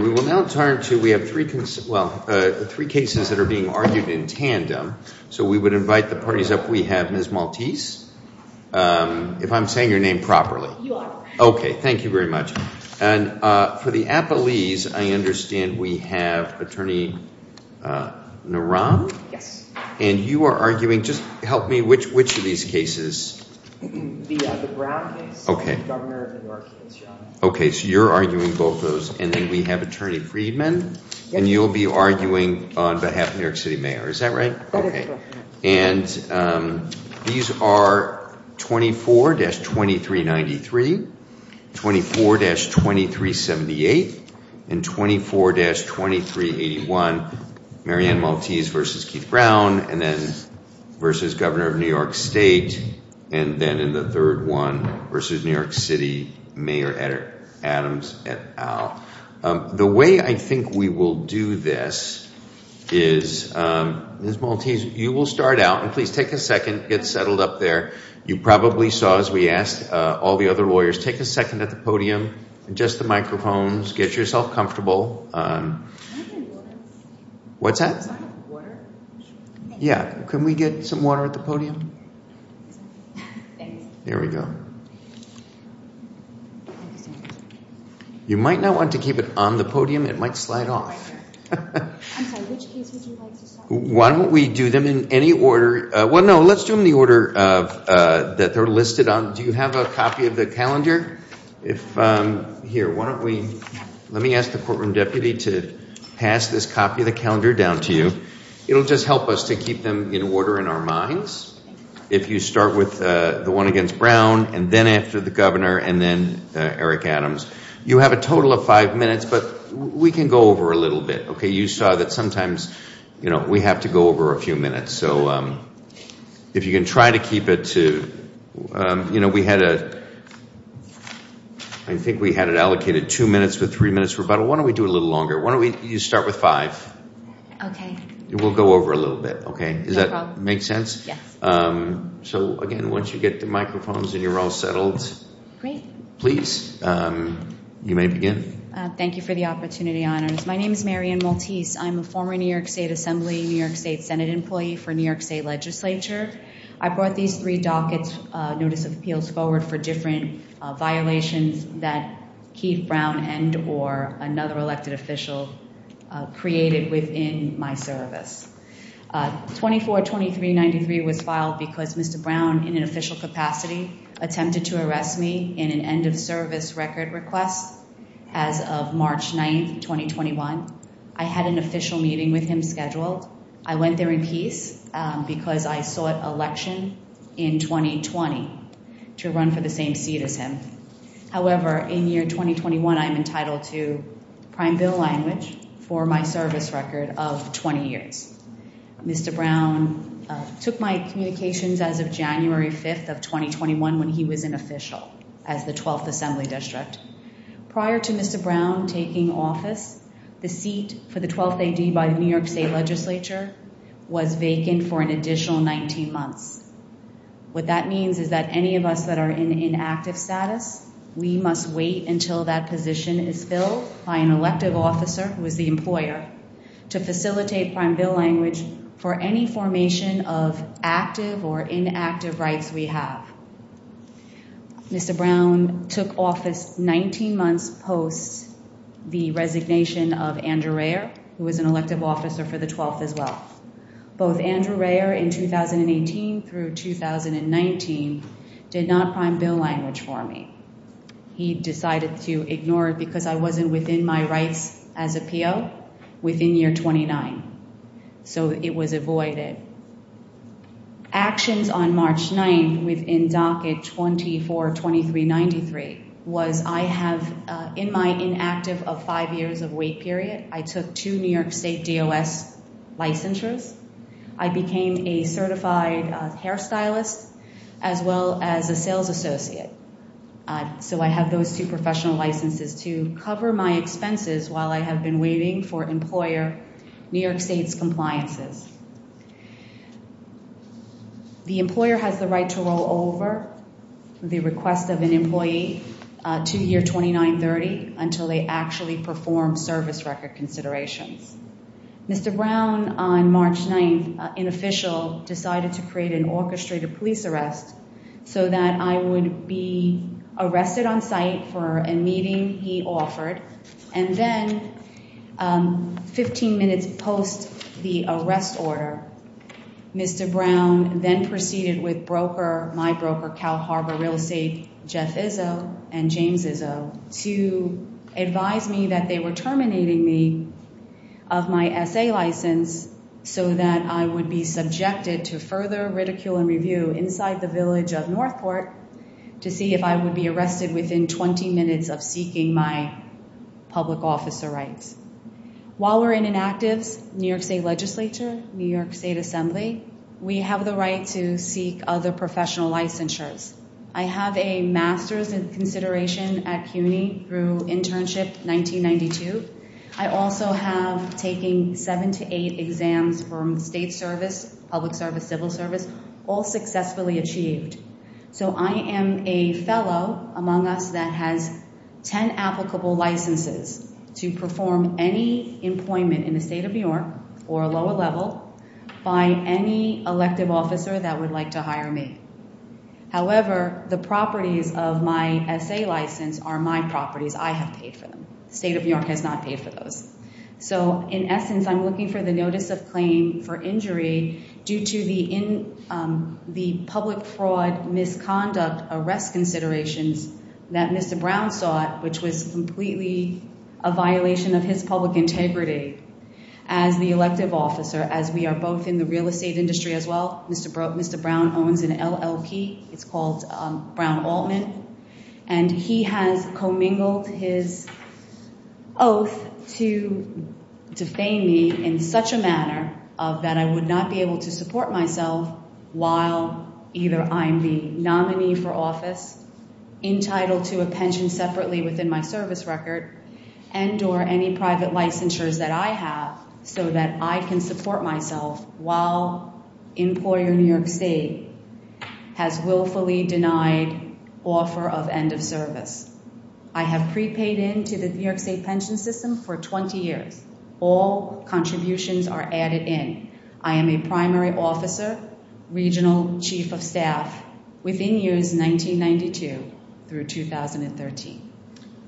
We have three cases that are being argued in tandem, so we would invite the parties up. We have Ms. Maltese, if I'm saying your name properly. You are. Okay. Thank you very much. And for the Appalese, I understand we have Attorney Naran, and you are arguing, just help me, which of these cases? The Brown case. Okay. The Governor of New York. Okay. So you're arguing both of those, and then we have Attorney Friedman, and you'll be arguing on behalf of New York City Mayor. Is that right? That is correct. Okay. And these are 24-2393, 24-2378, and 24-2381, Mary Ann Maltese v. Keith Brown, and then Governor of New York State, and then in the third one, versus New York City Mayor Adams et al. The way I think we will do this is, Ms. Maltese, you will start out, and please take a second, get settled up there. You probably saw, as we asked all the other lawyers, take a second at the podium, adjust the microphones, get yourself comfortable. Can we do water? What's that? Water? Yeah. Can we get some water at the podium? Thanks. There we go. You might not want to keep it on the podium. It might slide off. I'm sorry. Which cases would you like to start with? Why don't we do them in any order? Well, no. Let's do them in the order that they're listed on. Do you have a copy of the calendar? Here, why don't we, let me ask the courtroom deputy to pass this copy of the calendar down to you. It'll just help us to keep them in order in our minds. If you start with the one against Brown, and then after the governor, and then Eric Adams. You have a total of five minutes, but we can go over a little bit. You saw that sometimes we have to go over a few minutes. If you can try to keep it to, we had a, I think we had it allocated two minutes with three minutes rebuttal. Why don't we do it a little longer? Why don't we, you start with five. Okay. We'll go over a little bit. Okay. Does that make sense? Yes. So again, once you get the microphones and you're all settled, please, you may begin. Thank you for the opportunity, honors. My name is Marian Maltese. I'm a former New York State Assembly, New York State Senate employee for New York State legislature. I brought these three dockets, notice of appeals forward for different violations that Keith Brown and, or another elected official created within my service. 24-23-93 was filed because Mr. Brown in an official capacity attempted to arrest me in an end of service record request as of March 9th, 2021. I had an official meeting with him scheduled. I went there in peace because I sought election in 2020 to run for the same seat as him. However, in year 2021, I'm entitled to prime bill language for my service record of 20 years. Mr. Brown took my communications as of January 5th of 2021 when he was an official as the 12th Assembly District. Prior to Mr. Brown taking office, the seat for the 12th AD by the New York State legislature was vacant for an additional 19 months. What that means is that any of us that are in inactive status, we must wait until that position is filled by an elective officer who is the employer to facilitate prime bill language for any formation of active or inactive rights we have. Mr. Brown took office 19 months post the resignation of Andrew Rayer, who was an elective officer for the 12th as well. Both Andrew Rayer in 2018 through 2019 did not prime bill language for me. He decided to ignore it because I wasn't within my rights as a PO within year 29. So it was avoided. Actions on March 9th within docket 242393 was I have in my inactive of five years of I took two New York State DOS licensures. I became a certified hairstylist as well as a sales associate. So I have those two professional licenses to cover my expenses while I have been waiting for employer New York State's compliances. The employer has the right to roll over the request of an employee to year 2930 until they actually perform service record considerations. Mr. Brown on March 9th, an official, decided to create an orchestrated police arrest so that I would be arrested on site for a meeting he offered and then 15 minutes post the arrest order, Mr. Brown then proceeded with broker, my broker, Cal Harbor Real Estate, Jeff Izzo and James Izzo to advise me that they were terminating me of my essay license so that I would be subjected to further ridicule and review inside the village of Northport to see if I would be arrested within 20 minutes of seeking my public officer rights. While we're in inactives, New York State Legislature, New York State Assembly, we have the right to seek other professional licensures. I have a master's in consideration at CUNY through internship 1992. I also have taken seven to eight exams from state service, public service, civil service, all successfully achieved. So I am a fellow among us that has 10 applicable licenses to perform any employment in the state of New York or lower level by any elective officer that would like to hire me. However, the properties of my essay license are my properties. I have paid for them. The state of New York has not paid for those. So in essence, I'm looking for the notice of claim for injury due to the public fraud misconduct arrest considerations that Mr. Brown sought, which was completely a violation of his public integrity as the elective officer as we are both in the real estate industry as well. Mr. Brown owns an LLP. It's called Brown Altman. And he has commingled his oath to defame me in such a manner that I would not be able to support myself while either I'm the nominee for office, entitled to a pension separately within my service record, and or any private licensures that I have so that I can support myself while employer New York state has willfully denied offer of end of service. I have prepaid into the New York state pension system for 20 years. All contributions are added in. I am a primary officer, regional chief of staff within years 1992 through 2013.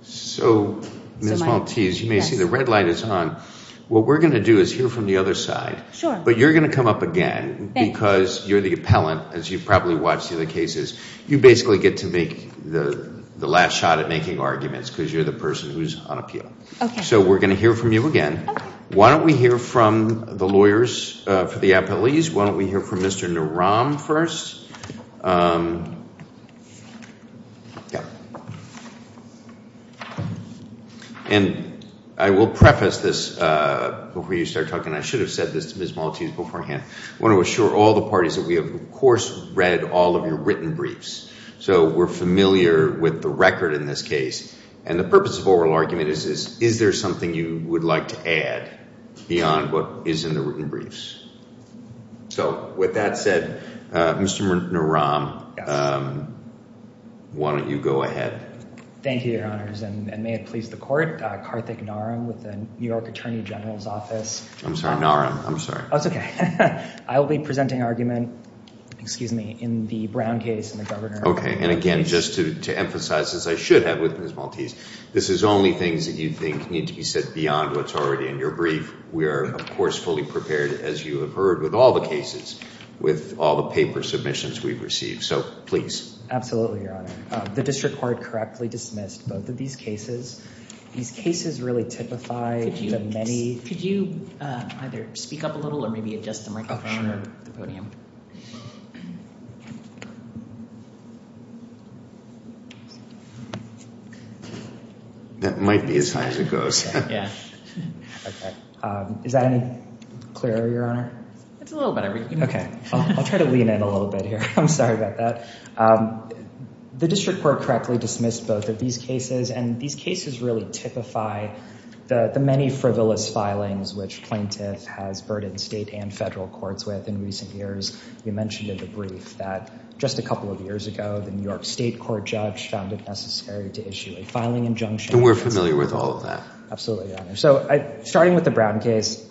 So Ms. Maltese, you may see the red light is on. What we're going to do is hear from the other side, but you're going to come up again because you're the appellant, as you've probably watched the other cases. You basically get to make the last shot at making arguments because you're the person who's on appeal. So we're going to hear from you again. Why don't we hear from the lawyers for the appellees? Why don't we hear from Mr. Naram first? And I will preface this before you start talking. I should have said this to Ms. Maltese beforehand. I want to assure all the parties that we have, of course, read all of your written briefs. So we're familiar with the record in this case. And the purpose of oral argument is, is there something you would like to add beyond what is in the written briefs? So with that said, Mr. Naram, why don't you go ahead? Thank you, Your Honors, and may it please the court, Karthik Naram with the New York Attorney General's Office. I'm sorry, Naram. I'm sorry. Oh, it's okay. I will be presenting argument, excuse me, in the Brown case and the Governor. Okay. And again, just to emphasize, as I should have with Ms. Maltese, this is only things that you think need to be said beyond what's already in your brief. We are, of course, fully prepared, as you have heard, with all the cases, with all the paper submissions we've received. So please. Absolutely, Your Honor. The district court correctly dismissed both of these cases. These cases really typify the many... Could you either speak up a little or maybe adjust the microphone or the podium? That might be as high as it goes. Yeah. Okay. Is that any clearer, Your Honor? It's a little better. You can... Okay. I'll try to lean in a little bit here. I'm sorry about that. The district court correctly dismissed both of these cases, and these cases really typify the many frivolous filings which plaintiff has burdened state and federal courts with in recent years. You mentioned in the brief that just a couple of years ago, the New York State Court judge found it necessary to issue a filing injunction. And we're familiar with all of that. Absolutely, Your Honor. So starting with the Brown case,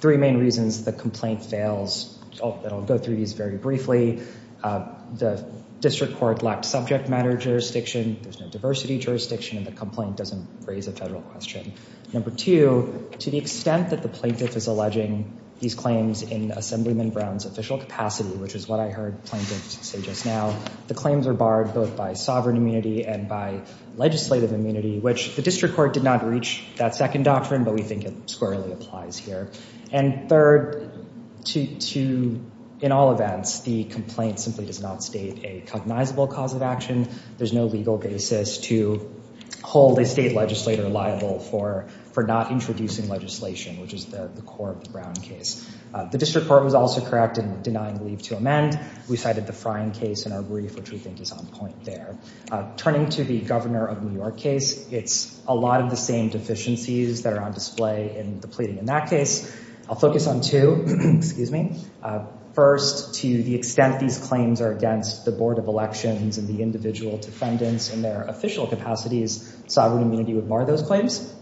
three main reasons the complaint fails, and I'll go through these very briefly. The district court lacked subject matter jurisdiction, there's no diversity jurisdiction, and the complaint doesn't raise a federal question. Number two, to the extent that the plaintiff is alleging these claims in Assemblyman Brown's official capacity, which is what I heard plaintiffs say just now, the claims are barred both by sovereign immunity and by legislative immunity, which the district court did not reach that second doctrine, but we think it squarely applies here. And third, in all events, the complaint simply does not state a cognizable cause of action. There's no legal basis to hold a state legislator liable for not introducing legislation, which is the core of the Brown case. The district court was also correct in denying leave to amend. We cited the Frying case in our brief, which we think is on point there. Turning to the Governor of New York case, it's a lot of the same deficiencies that are on display in the pleading in that case. I'll focus on two, first, to the extent these claims are against the Board of Elections and the individual defendants in their official capacities, sovereign immunity would bar those claims.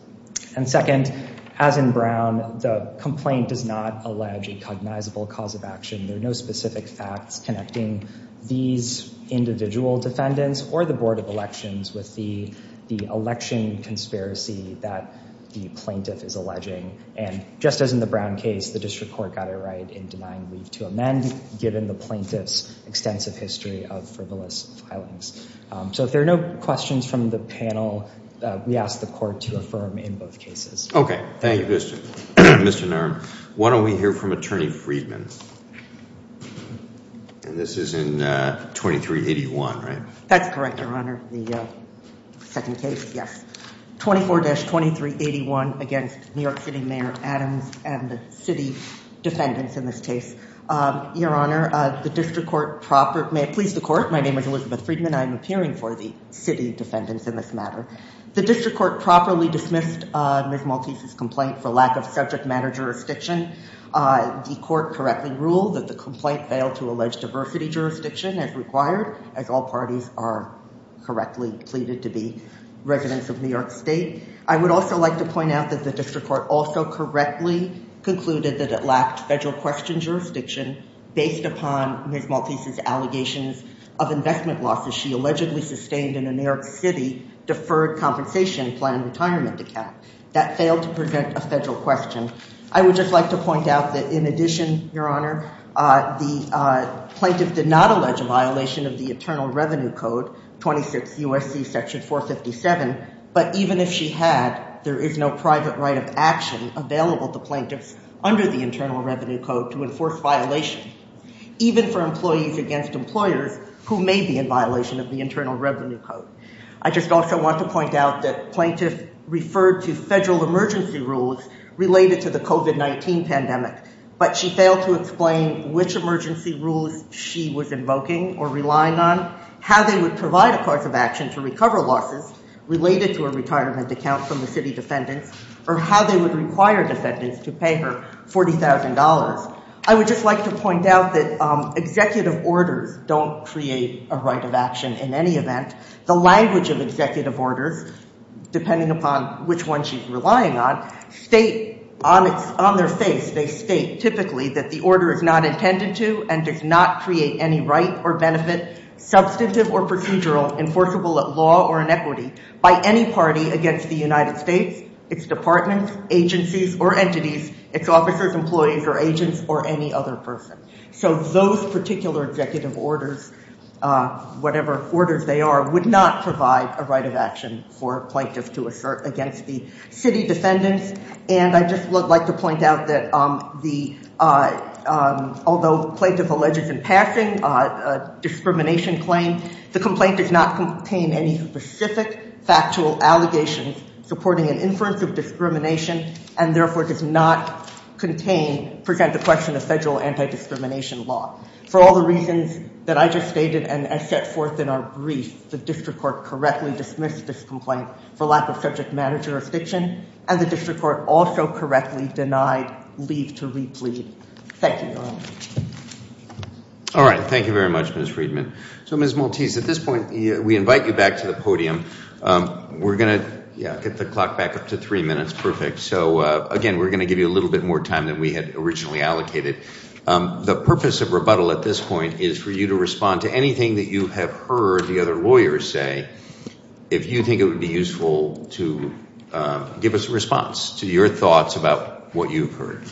And second, as in Brown, the complaint does not allege a cognizable cause of action. There are no specific facts connecting these individual defendants or the Board of Elections with the election conspiracy that the plaintiff is alleging. And just as in the Brown case, the district court got it right in denying leave to amend, given the plaintiff's extensive history of frivolous filings. So if there are no questions from the panel, we ask the court to affirm in both cases. Okay. Thank you, Mr. Narm. Why don't we hear from Attorney Freedman. This is in 2381, right? That's correct, Your Honor. The second case, yes. 24-2381 against New York City Mayor Adams and the city defendants in this case. Your Honor, the district court proper, please the court, my name is Elizabeth Freedman. I'm appearing for the city defendants in this matter. The district court properly dismissed Ms. Maltese's complaint for lack of subject matter jurisdiction. The court correctly ruled that the complaint failed to allege diversity jurisdiction as required, as all parties are correctly pleaded to be residents of New York State. I would also like to point out that the district court also correctly concluded that it lacked federal question jurisdiction based upon Ms. Maltese's allegations of investment losses she allegedly sustained in a New York City deferred compensation plan retirement account. That failed to present a federal question. I would just like to point out that in addition, Your Honor, the plaintiff did not allege a violation of the Internal Revenue Code, 26 U.S.C. section 457, but even if she had, there is no private right of action available to plaintiffs under the Internal Revenue Code to enforce violation. Even for employees against employers who may be in violation of the Internal Revenue Code. I just also want to point out that plaintiff referred to federal emergency rules related to the COVID-19 pandemic, but she failed to explain which emergency rules she was invoking or relying on, how they would provide a course of action to recover losses related to a retirement account from the city defendants, or how they would require defendants to pay her $40,000. I would just like to point out that executive orders don't create a right of action in any event. The language of executive orders, depending upon which one she's relying on, state on their face, they state typically that the order is not intended to and does not create any right or benefit, substantive or procedural, enforceable at law or in equity by any party against the United States, its departments, agencies or entities, its officers, employees or agents or any other person. So those particular executive orders, whatever orders they are, would not provide a right of action for a plaintiff to assert against the city defendants, and I just would like to point out that although plaintiff alleges in passing a discrimination claim, the complaint does not contain any specific factual allegations supporting an inference of discrimination and therefore does not contain, present the question of federal anti-discrimination law. For all the reasons that I just stated and I set forth in our brief, the district court correctly dismissed this complaint for lack of subject matter jurisdiction, and the district court also correctly denied leave to replead. Thank you. All right. Thank you very much, Ms. Friedman. So Ms. Maltese, at this point, we invite you back to the podium. We're going to get the clock back up to three minutes. That's perfect. So again, we're going to give you a little bit more time than we had originally allocated. The purpose of rebuttal at this point is for you to respond to anything that you have heard the other lawyers say, if you think it would be useful to give us a response to your thoughts about what you've heard.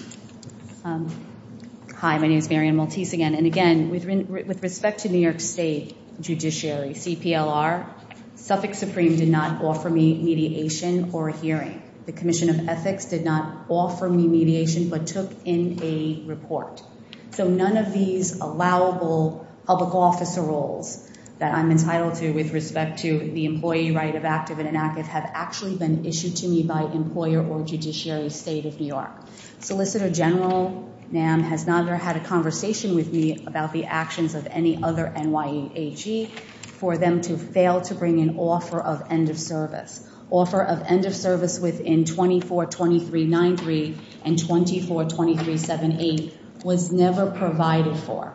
Hi, my name is Marian Maltese again, and again, with respect to New York State judiciary, CPLR, Suffolk Supreme did not offer me mediation or a hearing. The Commission of Ethics did not offer me mediation but took in a report. So none of these allowable public officer roles that I'm entitled to with respect to the employee right of active and inactive have actually been issued to me by employer or judiciary state of New York. Solicitor General NAM has not had a conversation with me about the actions of any other NYAG for them to fail to bring an offer of end of service. Offer of end of service within 24-2393 and 24-2378 was never provided for.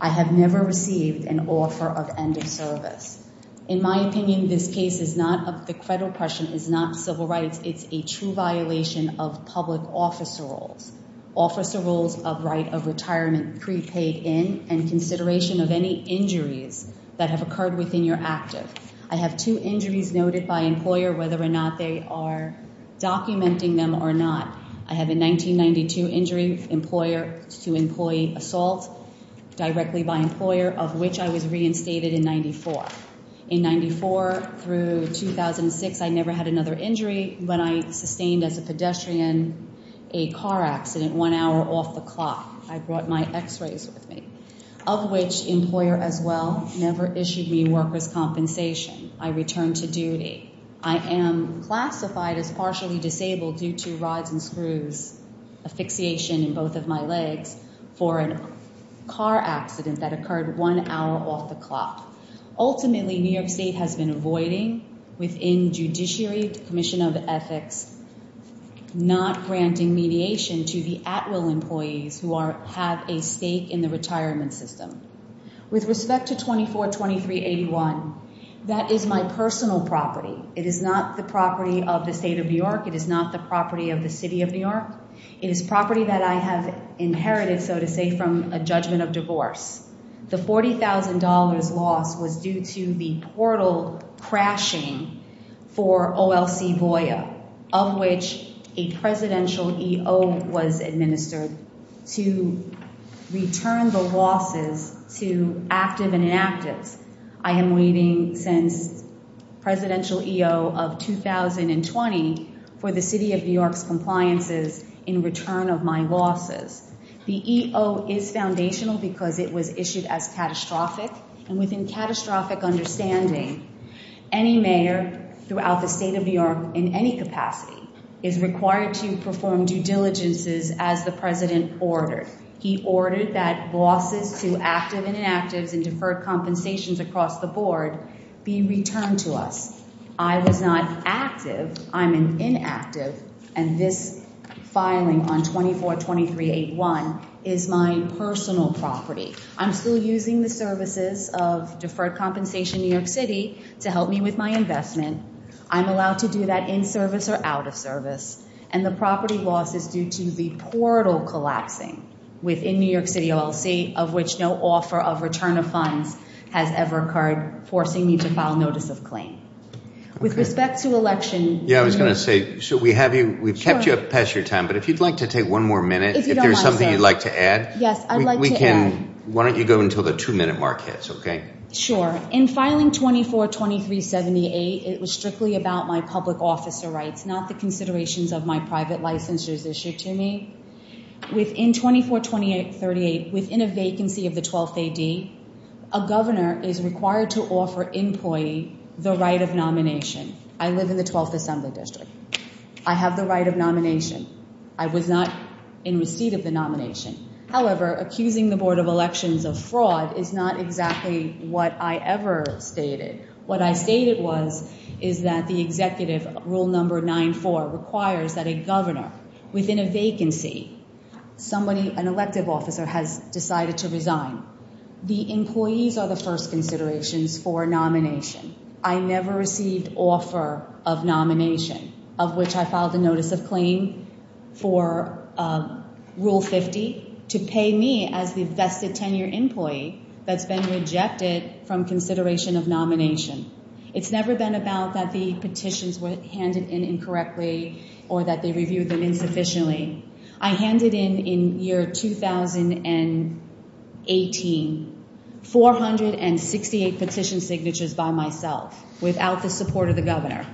I have never received an offer of end of service. In my opinion, this case is not of the credo question, is not civil rights. It's a true violation of public officer roles. Officer roles of right of retirement prepaid in and consideration of any injuries that have occurred within your active. I have two injuries noted by employer whether or not they are documenting them or not. I have a 1992 injury to employee assault directly by employer of which I was reinstated in 94. In 94 through 2006, I never had another injury when I sustained as a pedestrian a car accident one hour off the clock. I brought my x-rays with me of which employer as well never issued me worker's compensation. I returned to duty. I am classified as partially disabled due to rods and screws, a fixation in both of my legs for a car accident that occurred one hour off the clock. Ultimately, New York State has been avoiding within Judiciary Commission of Ethics not granting mediation to the at-will employees who have a stake in the retirement system. With respect to 24-2381, that is my personal property. It is not the property of the state of New York. It is not the property of the city of New York. It is property that I have inherited, so to say, from a judgment of divorce. The $40,000 loss was due to the portal crashing for OLC VOIA of which a presidential EO was administered to return the losses to active and inactives. I am waiting since presidential EO of 2020 for the city of New York's compliances in return of my losses. The EO is foundational because it was issued as catastrophic, and within catastrophic understanding, any mayor throughout the state of New York in any capacity is required to perform due diligences as the president ordered. He ordered that losses to active and inactives and deferred compensations across the board be returned to us. I was not active, I'm inactive, and this filing on 24-2381 is my personal property. I'm still using the services of deferred compensation New York City to help me with my investment. I'm allowed to do that in service or out of service, and the property loss is due to the portal collapsing within New York City OLC of which no offer of return of funds has ever occurred, forcing me to file a notice of claim. With respect to election- Yeah, I was going to say, we've kept you up past your time, but if you'd like to take one more minute, if there's something you'd like to add, why don't you go until the two minute mark hits, okay? Sure. In filing 24-2378, it was strictly about my public officer rights, not the considerations of my private licensures issued to me. Within 24-2388, within a vacancy of the 12th AD, a governor is required to offer employee the right of nomination. I live in the 12th Assembly District. I have the right of nomination. I was not in receipt of the nomination. However, accusing the Board of Elections of fraud is not exactly what I ever stated. What I stated was, is that the executive rule number 9-4 requires that a governor within a vacancy, somebody, an elective officer, has decided to resign. The employees are the first considerations for nomination. I never received offer of nomination, of which I filed a notice of claim for Rule 50 to pay me as the vested tenure employee that's been rejected from consideration of nomination. It's never been about that the petitions were handed in incorrectly or that they reviewed them insufficiently. I handed in, in year 2018, 468 petition signatures by myself, without the support of the governor,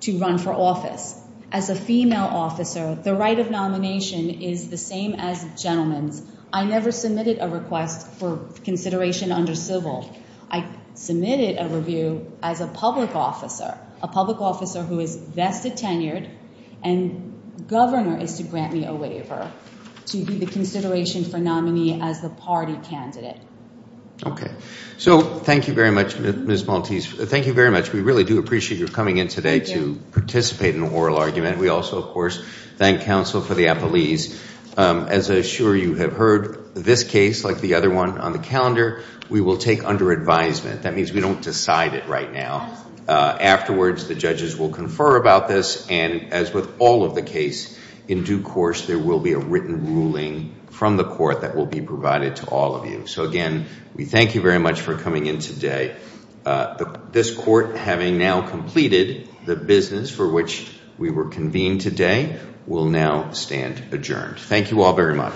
to run for office. As a female officer, the right of nomination is the same as gentlemen's. I never submitted a request for consideration under civil. I submitted a review as a public officer, a public officer who is vested tenured, and governor is to grant me a waiver to be the consideration for nominee as the party candidate. Okay. So, thank you very much, Ms. Maltese. Thank you very much. We really do appreciate your coming in today to participate in the oral argument. We also, of course, thank counsel for the appellees. As I'm sure you have heard, this case, like the other one on the calendar, we will take it under advisement. That means we don't decide it right now. Afterwards, the judges will confer about this, and as with all of the case, in due course, there will be a written ruling from the court that will be provided to all of you. So again, we thank you very much for coming in today. This court, having now completed the business for which we were convened today, will now stand adjourned. Thank you all very much.